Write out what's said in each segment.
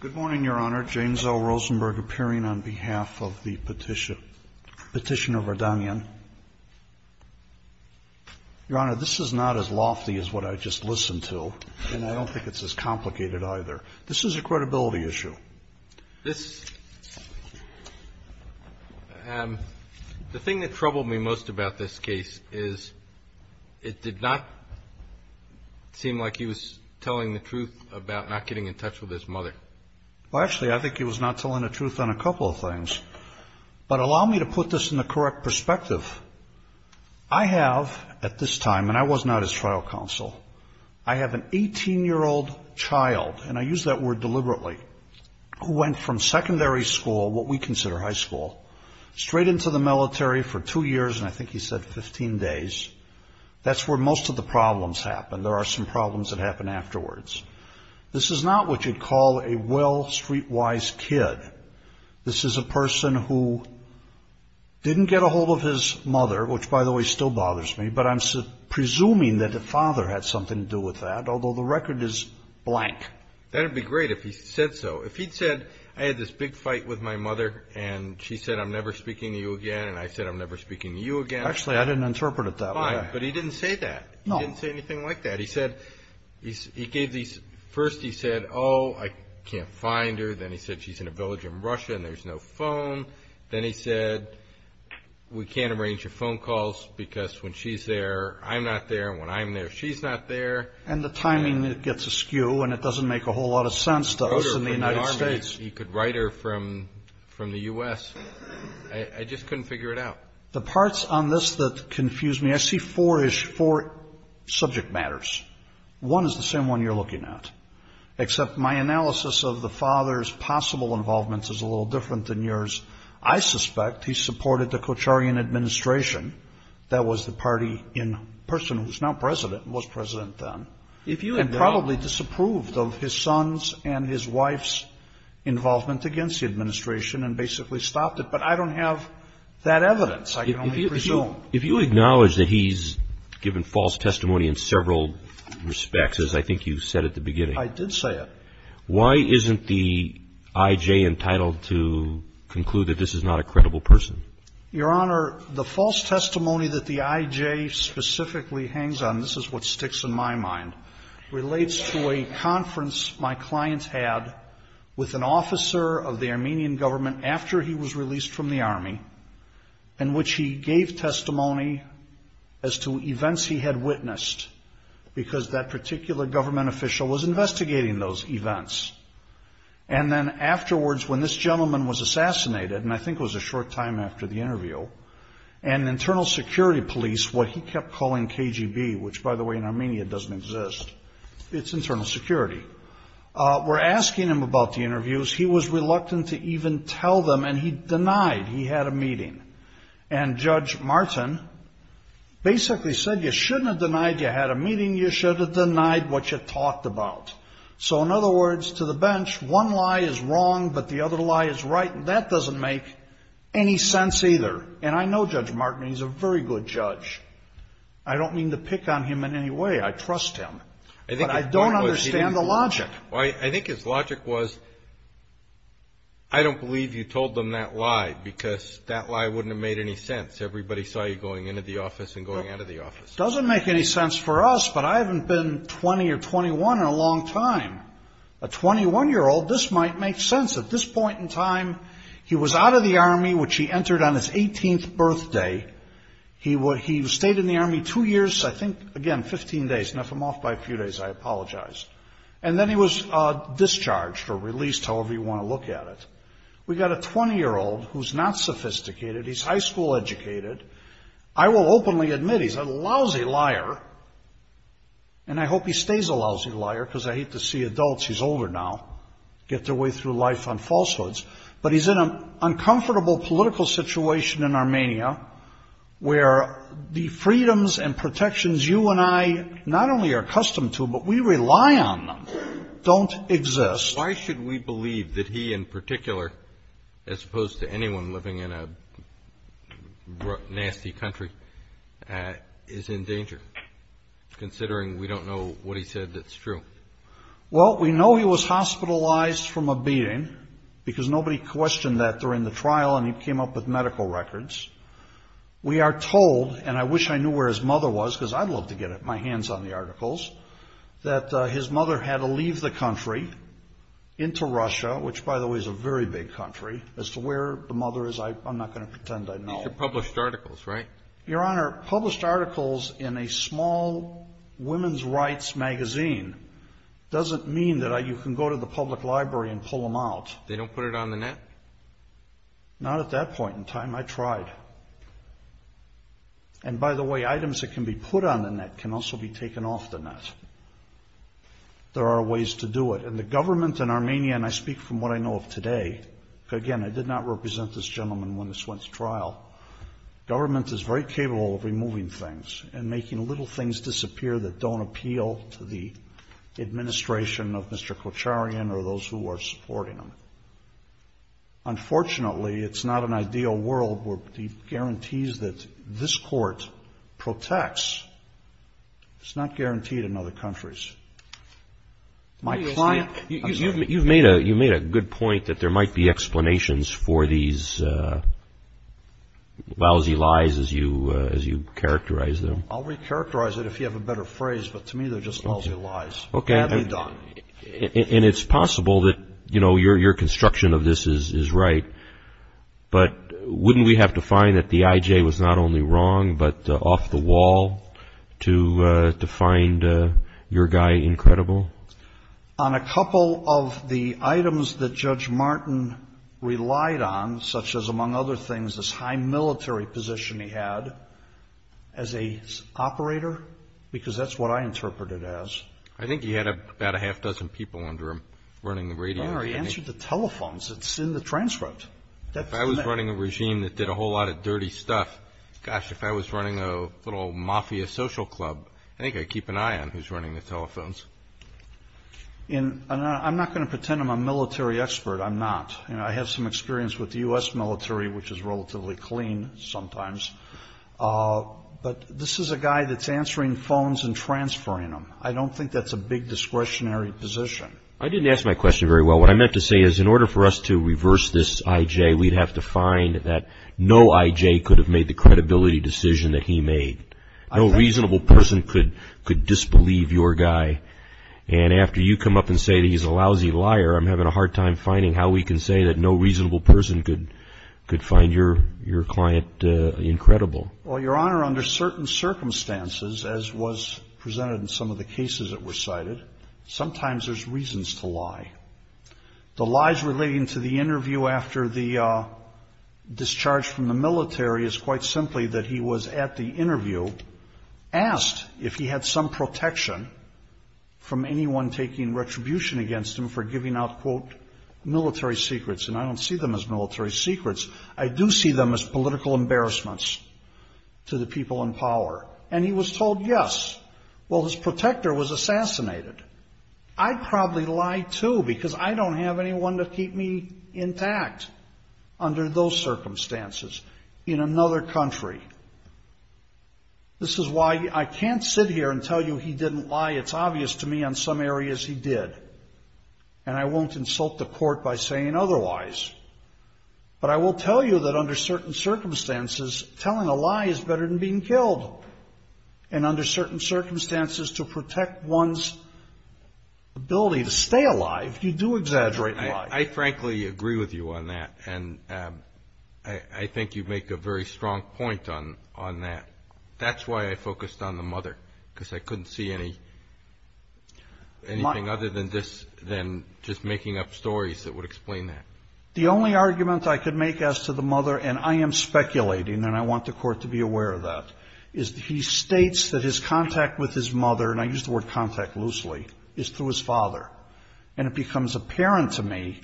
Good morning, Your Honor. James L. Rosenberg appearing on behalf of the petitioner Vardanyan. Your Honor, this is not as lofty as what I just listened to, and I don't think it's as complicated either. This is a credibility issue. The thing that troubled me most about this case is it did not seem like he was telling the truth about not getting in touch with his mother. Well, actually, I think he was not telling the truth on a couple of things, but allow me to put this in the correct perspective. I have, at this time, and I was not his trial counsel, I have an 18-year-old child, and I use that word deliberately, who went from secondary school, what we consider high school, straight into the military for two years, and I think he said 15 days. That's where most of the problems happen. There are some problems that happen afterwards. This is not what you'd call a well, streetwise kid. This is a person who didn't get a hold of his mother, which, by the way, still bothers me, but I'm presuming that the father had something to do with that, although the record is blank. That would be great if he said so. If he'd said, I had this big fight with my mother, and she said, I'm never speaking to you again, and I said, I'm never speaking to you again. Actually, I didn't interpret it that way. But he didn't say that. He didn't say anything like that. First, he said, oh, I can't find her. Then he said, she's in a village in Russia, and there's no phone. Then he said, we can't arrange your phone calls, because when she's there, I'm not there, and when I'm there, she's not there. And the timing gets askew, and it doesn't make a whole lot of sense to us in the United States. He could write her from the U.S. I just couldn't figure it out. The parts on this that confuse me, I see four subject matters. One is the same one you're looking at, except my analysis of the father's possible involvement is a little different than yours. I suspect he supported the Kocharian administration. That was the party in person who's now president and was president then. And probably disapproved of his son's and his wife's involvement against the administration and basically stopped it. But I don't have that evidence. I can only presume. If you acknowledge that he's given false testimony in several respects, as I think you said at the beginning. I did say it. Why isn't the I.J. entitled to conclude that this is not a credible person? Your Honor, the false testimony that the I.J. specifically hangs on, this is what sticks in my mind, relates to a conference my clients had with an officer of the Armenian government after he was released from the army, in which he gave testimony as to events he had witnessed, because that particular government official was investigating those events. And then afterwards, when this gentleman was assassinated, and I think it was a short time after the interview, an internal security police, what he kept calling KGB, which by the way in Armenia doesn't exist, it's internal security, were asking him about the interviews. He was reluctant to even tell them, and he denied he had a meeting. And Judge Martin basically said you shouldn't have denied you had a meeting. You should have denied what you talked about. So in other words, to the bench, one lie is wrong, but the other lie is right. And that doesn't make any sense either. And I know Judge Martin. He's a very good judge. I don't mean to pick on him in any way. I trust him. But I don't understand the logic. I think his logic was, I don't believe you told them that lie, because that lie wouldn't have made any sense. Everybody saw you going into the office and going out of the office. It doesn't make any sense for us, but I haven't been 20 or 21 in a long time. A 21-year-old, this might make sense. At this point in time, he was out of the Army, which he entered on his 18th birthday. He stayed in the Army two years, I think, again, 15 days. Left him off by a few days. I apologize. And then he was discharged or released, however you want to look at it. We've got a 20-year-old who's not sophisticated. He's high school educated. I will openly admit he's a lousy liar. And I hope he stays a lousy liar, because I hate to see adults, he's older now, get their way through life on falsehoods. But he's in an uncomfortable political situation in Armenia where the freedoms and protections you and I not only are accustomed to, but we rely on them, don't exist. Why should we believe that he in particular, as opposed to anyone living in a nasty country, is in danger, considering we don't know what he said that's true? Well, we know he was hospitalized from a beating, because nobody questioned that during the trial, and he came up with medical records. We are told, and I wish I knew where his mother was, because I'd love to get my hands on the articles, that his mother had to leave the country into Russia, which, by the way, is a very big country. As to where the mother is, I'm not going to pretend I know. These are published articles, right? Your Honor, published articles in a small women's rights magazine doesn't mean that you can go to the public library and pull them out. They don't put it on the net? Not at that point in time. I tried. And, by the way, items that can be put on the net can also be taken off the net. There are ways to do it. And the government in Armenia, and I speak from what I know of today, because, again, I did not represent this gentleman when this went to trial, government is very capable of removing things and making little things disappear that don't appeal to the administration of Mr. Kocharian or those who are supporting him. Unfortunately, it's not an ideal world where he guarantees that this court protects. It's not guaranteed in other countries. You've made a good point that there might be explanations for these lousy lies as you characterize them. I'll recharacterize it if you have a better phrase, but to me they're just lousy lies. And it's possible that your construction of this is right, but wouldn't we have to find that the I.J. was not only wrong but off the wall to find your guy incredible? On a couple of the items that Judge Martin relied on, such as, among other things, this high military position he had as an operator, because that's what I interpret it as. I think he had about a half dozen people under him running the radio. No, he answered the telephones. It's in the transcript. If I was running a regime that did a whole lot of dirty stuff, gosh, if I was running a little mafia social club, I think I'd keep an eye on who's running the telephones. I'm not going to pretend I'm a military expert. I'm not. I have some experience with the U.S. military, which is relatively clean sometimes. But this is a guy that's answering phones and transferring them. I don't think that's a big discretionary position. I didn't ask my question very well. What I meant to say is in order for us to reverse this I.J., we'd have to find that no I.J. could have made the credibility decision that he made. No reasonable person could disbelieve your guy. And after you come up and say that he's a lousy liar, I'm having a hard time finding how we can say that no reasonable person could find your client incredible. Well, Your Honor, under certain circumstances, as was presented in some of the cases that were cited, sometimes there's reasons to lie. The lies relating to the interview after the discharge from the military is quite simply that he was at the interview, asked if he had some protection from anyone taking retribution against him for giving out, quote, military secrets. And I don't see them as military secrets. I do see them as political embarrassments to the people in power. And he was told yes. Well, his protector was assassinated. I'd probably lie, too, because I don't have anyone to keep me intact under those circumstances in another country. This is why I can't sit here and tell you he didn't lie. It's obvious to me on some areas he did. And I won't insult the court by saying otherwise. But I will tell you that under certain circumstances, telling a lie is better than being killed. And under certain circumstances, to protect one's ability to stay alive, you do exaggerate lies. I frankly agree with you on that. And I think you make a very strong point on that. That's why I focused on the mother, because I couldn't see anything other than this, than just making up stories that would explain that. The only argument I could make as to the mother, and I am speculating, and I want the court to be aware of that, is he states that his contact with his mother, and I use the word contact loosely, is through his father. And it becomes apparent to me,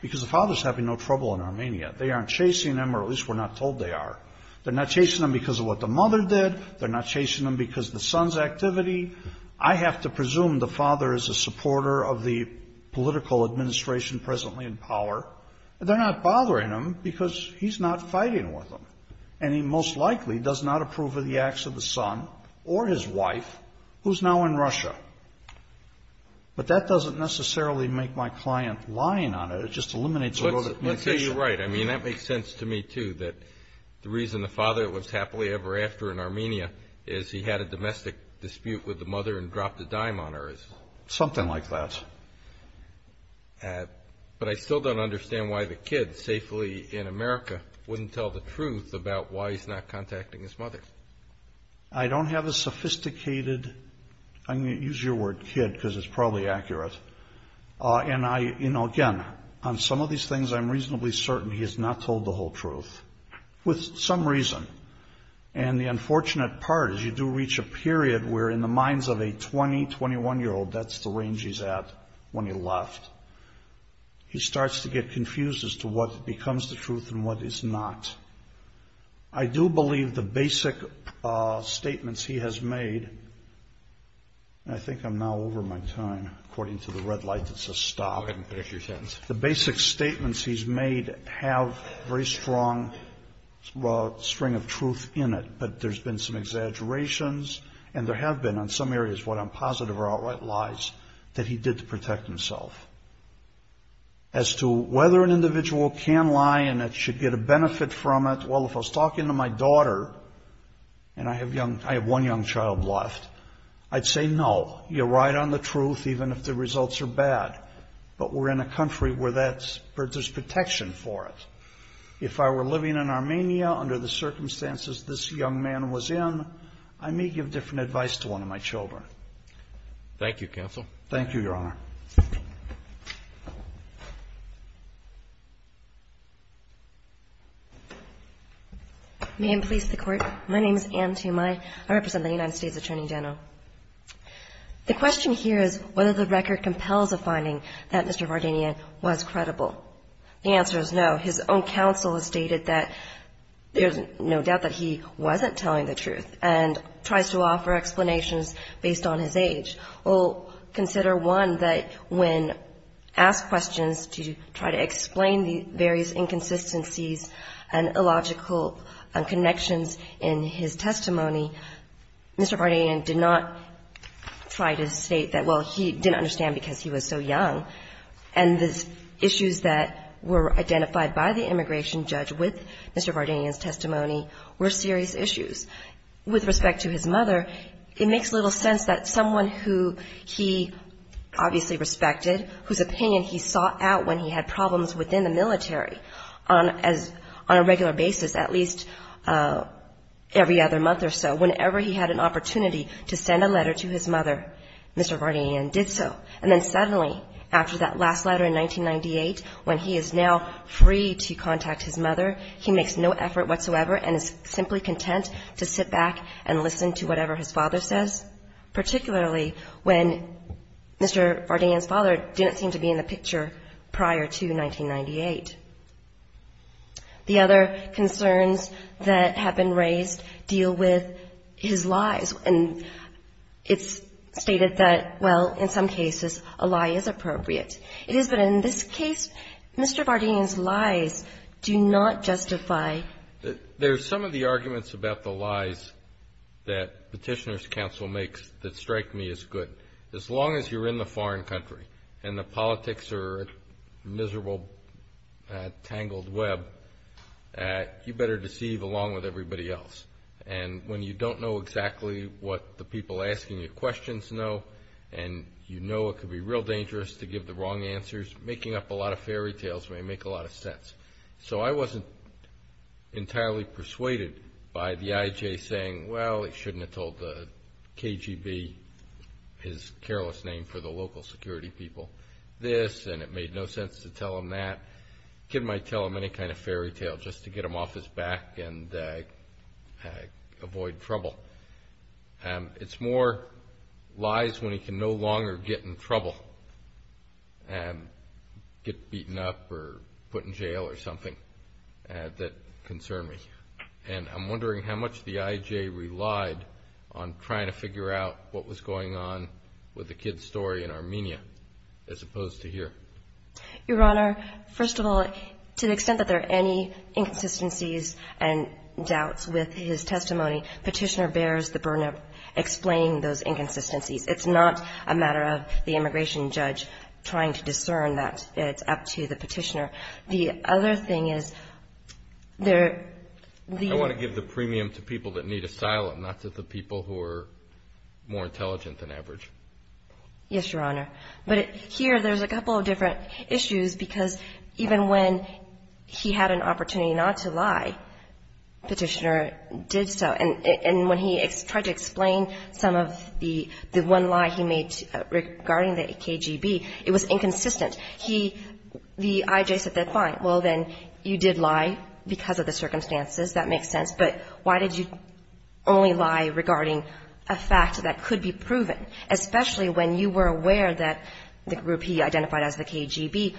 because the father's having no trouble in Armenia. They aren't chasing him, or at least we're not told they are. They're not chasing him because of what the mother did. They're not chasing him because of the son's activity. I have to presume the father is a supporter of the political administration presently in power. They're not bothering him because he's not fighting with them, and he most likely does not approve of the acts of the son or his wife, who's now in Russia. But that doesn't necessarily make my client lying on it. It just eliminates a little bit of communication. Let's say you're right. I mean, that makes sense to me, too, that the reason the father was happily ever after in Armenia is he had a domestic dispute with the mother and dropped a dime on her. Something like that. But I still don't understand why the kid, safely in America, wouldn't tell the truth about why he's not contacting his mother. I don't have a sophisticated, I'm going to use your word, kid, because it's probably accurate. And I, you know, again, on some of these things I'm reasonably certain he has not told the whole truth, with some reason. And the unfortunate part is you do reach a period where, in the minds of a 20, 21-year-old, that's the range he's at when he left. He starts to get confused as to what becomes the truth and what is not. I do believe the basic statements he has made, and I think I'm now over my time, according to the red light that says stop. Go ahead and finish your sentence. The basic statements he's made have a very strong string of truth in it, but there's been some exaggerations, and there have been on some areas where I'm positive or outright lies, that he did to protect himself. As to whether an individual can lie and should get a benefit from it, well, if I was talking to my daughter, and I have one young child left, I'd say no. You're right on the truth, even if the results are bad. But we're in a country where there's protection for it. If I were living in Armenia under the circumstances this young man was in, I may give different advice to one of my children. Thank you, counsel. Thank you, Your Honor. May it please the Court. My name is Anne Tumai. I represent the United States Attorney General. The question here is whether the record compels a finding that Mr. Vardenian was credible. The answer is no. His own counsel has stated that there's no doubt that he wasn't telling the truth and tries to offer explanations based on his age. Well, consider one that when asked questions to try to explain the various inconsistencies and illogical connections in his testimony, Mr. Vardenian did not try to state that, well, he didn't understand because he was so young. And the issues that were identified by the immigration judge with Mr. Vardenian's testimony were serious issues. With respect to his mother, it makes little sense that someone who he obviously respected, whose opinion he sought out when he had problems within the military on a regular basis, at least every other month or so, whenever he had an opportunity to send a letter to his mother, Mr. Vardenian did so. And then suddenly, after that last letter in 1998, when he is now free to contact his mother, he makes no effort whatsoever and is simply content to sit back and listen to whatever his father says, particularly when Mr. Vardenian's father didn't seem to be in the picture prior to 1998. The other concerns that have been raised deal with his lies. And it's stated that, well, in some cases, a lie is appropriate. It is, but in this case, Mr. Vardenian's lies do not justify. There are some of the arguments about the lies that Petitioner's Counsel makes that strike me as good. As long as you're in a foreign country and the politics are a miserable, tangled web, you better deceive along with everybody else. And when you don't know exactly what the people asking you questions know and you know it could be real dangerous to give the wrong answers, making up a lot of fairy tales may make a lot of sense. So I wasn't entirely persuaded by the I.J. saying, well, he shouldn't have told the KGB, his careless name for the local security people, this, and it made no sense to tell him that. A kid might tell him any kind of fairy tale just to get him off his back and avoid trouble. It's more lies when he can no longer get in trouble and get beaten up or put in jail or something that concern me. And I'm wondering how much the I.J. relied on trying to figure out what was going on with the kid's story in Armenia as opposed to here. Your Honor, first of all, to the extent that there are any inconsistencies and doubts with his testimony, Petitioner bears the burden of explaining those inconsistencies. It's not a matter of the immigration judge trying to discern that. It's up to the Petitioner. The other thing is there the ---- I want to give the premium to people that need asylum, not to the people who are more intelligent than average. Yes, Your Honor. But here there's a couple of different issues because even when he had an opportunity not to lie, Petitioner did so. And when he tried to explain some of the one lie he made regarding the KGB, it was inconsistent. He ---- the I.J. said that, fine, well, then, you did lie because of the circumstances. That makes sense. But why did you only lie regarding a fact that could be proven, especially when you were aware that the group he identified as the KGB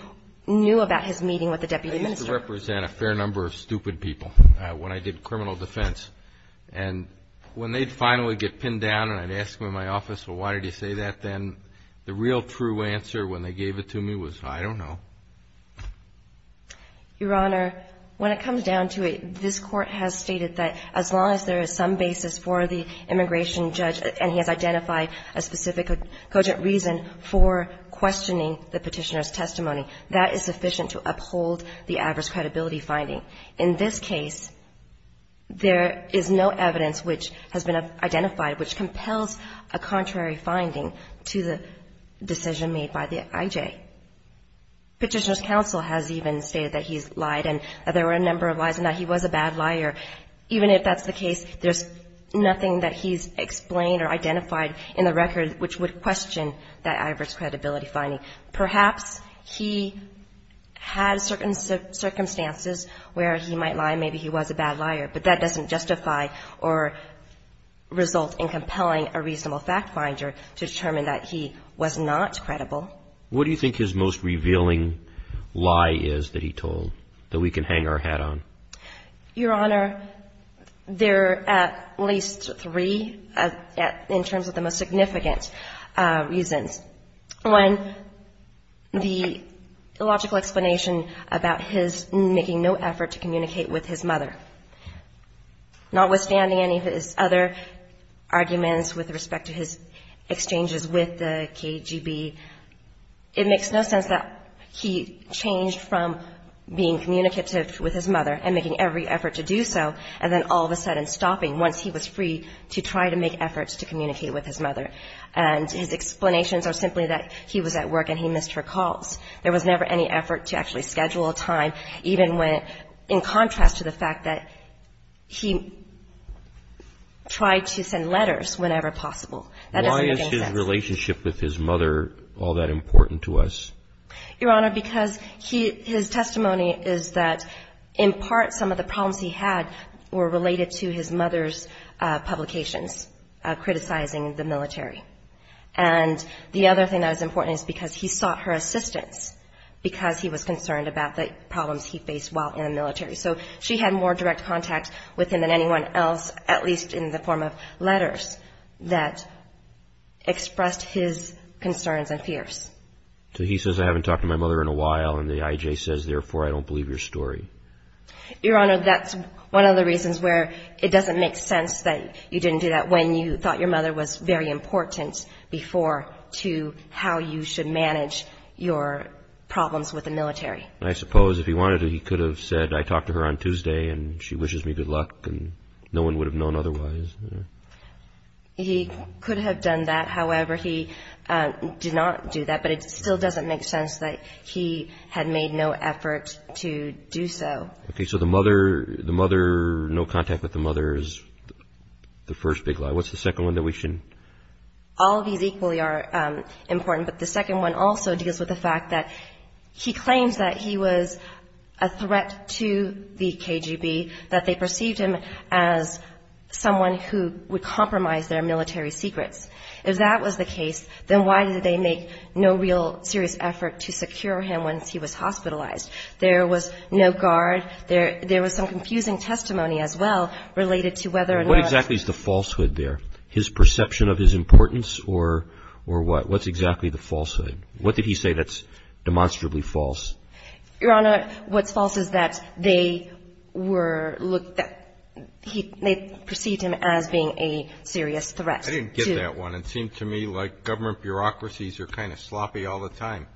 knew about his meeting with the deputy minister? I used to represent a fair number of stupid people when I did criminal defense. And when they'd finally get pinned down and I'd ask them in my office, well, why did you say that then, the real true answer when they gave it to me was, I don't know. Your Honor, when it comes down to it, this Court has stated that as long as there is some basis for the immigration judge, and he has identified a specific cogent reason for questioning the Petitioner's credibility finding, in this case, there is no evidence which has been identified which compels a contrary finding to the decision made by the I.J. Petitioner's counsel has even stated that he's lied and that there were a number of lies and that he was a bad liar. Even if that's the case, there's nothing that he's explained or identified in the record which would question that adverse credibility finding. Perhaps he had certain circumstances where he might lie, maybe he was a bad liar, but that doesn't justify or result in compelling a reasonable fact finder to determine that he was not credible. What do you think his most revealing lie is that he told that we can hang our hat on? Your Honor, there are at least three in terms of the most significant reasons. One, the illogical explanation about his making no effort to communicate with his mother. Notwithstanding any of his other arguments with respect to his exchanges with the KGB, it makes no sense that he changed from being communicative with his mother and making every effort to do so, and then all of a sudden stopping once he was free to try to make efforts to communicate with his mother. And his explanations are simply that he was at work and he missed her calls. There was never any effort to actually schedule a time, even when in contrast to the fact that he tried to send letters whenever possible. Why is his relationship with his mother all that important to us? Your Honor, because his testimony is that in part some of the problems he had were related to his mother's involvement in the military. And the other thing that is important is because he sought her assistance because he was concerned about the problems he faced while in the military. So she had more direct contact with him than anyone else, at least in the form of letters that expressed his concerns and fears. So he says, I haven't talked to my mother in a while, and the IJ says, therefore, I don't believe your story. Your Honor, that's one of the reasons where it doesn't make sense that you didn't do that when you thought your mother was very important before to how you should manage your problems with the military. I suppose if he wanted to, he could have said, I talked to her on Tuesday and she wishes me good luck and no one would have known otherwise. He could have done that. However, he did not do that, but it still doesn't make sense that he had made no effort to do so. Okay, so the mother, no contact with the mother is the first big lie. What's the second one that we shouldn't? All of these equally are important, but the second one also deals with the fact that he claims that he was a threat to the KGB, that they perceived him as someone who would compromise their military secrets. If that was the case, then why did they make no real serious effort to secure him once he was hospitalized? There was no guard. There was some confusing testimony as well related to whether or not ---- What exactly is the falsehood there? His perception of his importance or what? What's exactly the falsehood? What did he say that's demonstrably false? Your Honor, what's false is that they were ---- they perceived him as being a serious threat. I didn't get that one. It seemed to me like government bureaucracies are kind of sloppy all the time.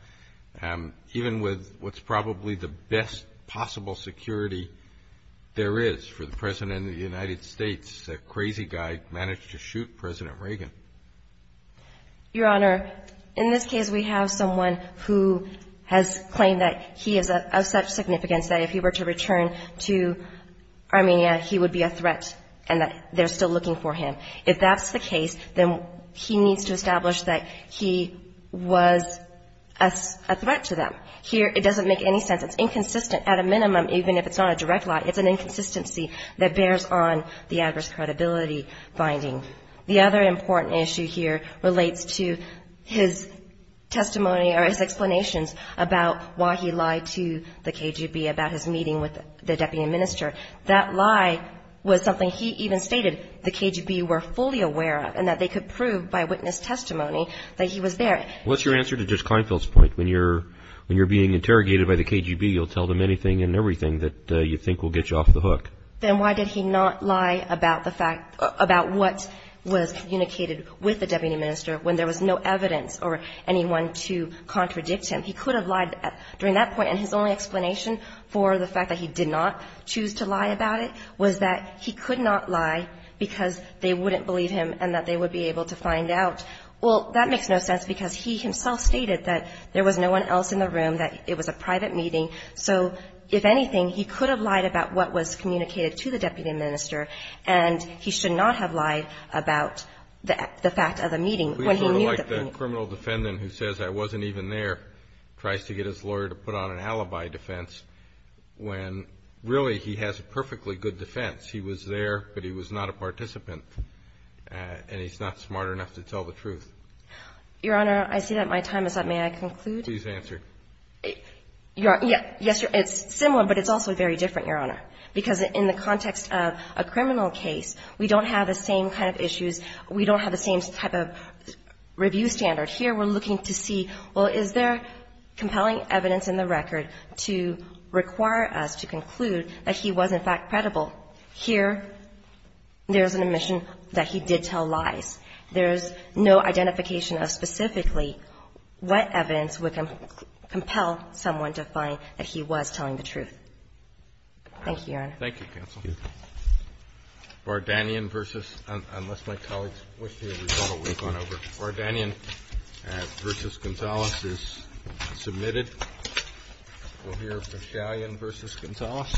Even with what's probably the best possible security there is for the President of the United States, that crazy guy managed to shoot President Reagan. Your Honor, in this case, we have someone who has claimed that he is of such significance that if he were to return to Armenia, he would be a threat and that they're still looking for him. If that's the case, then he needs to establish that he was a threat to them. Here, it doesn't make any sense. It's inconsistent at a minimum, even if it's not a direct lie. It's an inconsistency that bears on the adverse credibility finding. The other important issue here relates to his testimony or his explanations about why he lied to the KGB about his meeting with the deputy minister. That lie was something he even stated the KGB were fully aware of and that they could prove by witness testimony that he was there. What's your answer to Judge Kleinfeld's point? When you're being interrogated by the KGB, you'll tell them anything and everything that you think will get you off the hook. Then why did he not lie about what was communicated with the deputy minister when there was no evidence or anyone to contradict him? During that point, and his only explanation for the fact that he did not choose to lie about it was that he could not lie because they wouldn't believe him and that they would be able to find out. Well, that makes no sense because he himself stated that there was no one else in the room, that it was a private meeting. So, if anything, he could have lied about what was communicated to the deputy minister and he should not have lied about the fact of the meeting. Please sort of like the criminal defendant who says, I wasn't even there, tries to get his lawyer to put on an alibi defense when really he has a perfectly good defense. He was there, but he was not a participant, and he's not smart enough to tell the truth. Your Honor, I see that my time is up. May I conclude? Please answer. Yes, it's similar, but it's also very different, Your Honor, because in the context of a criminal case, we don't have the same kind of issues. We don't have the same type of review standard. Here, we're looking to see, well, is there compelling evidence in the record to require us to conclude that he was in fact credible? Here, there's an admission that he did tell lies. There's no identification of specifically what evidence would compel someone to find that he was telling the truth. Thank you, Your Honor. Thank you, counsel. Thank you. Bar-Danion versus ‑‑ unless my colleagues wish to hear the result, we'll go on over. Bar-Danion versus Gonzales is submitted. We'll hear Verchalion versus Gonzales.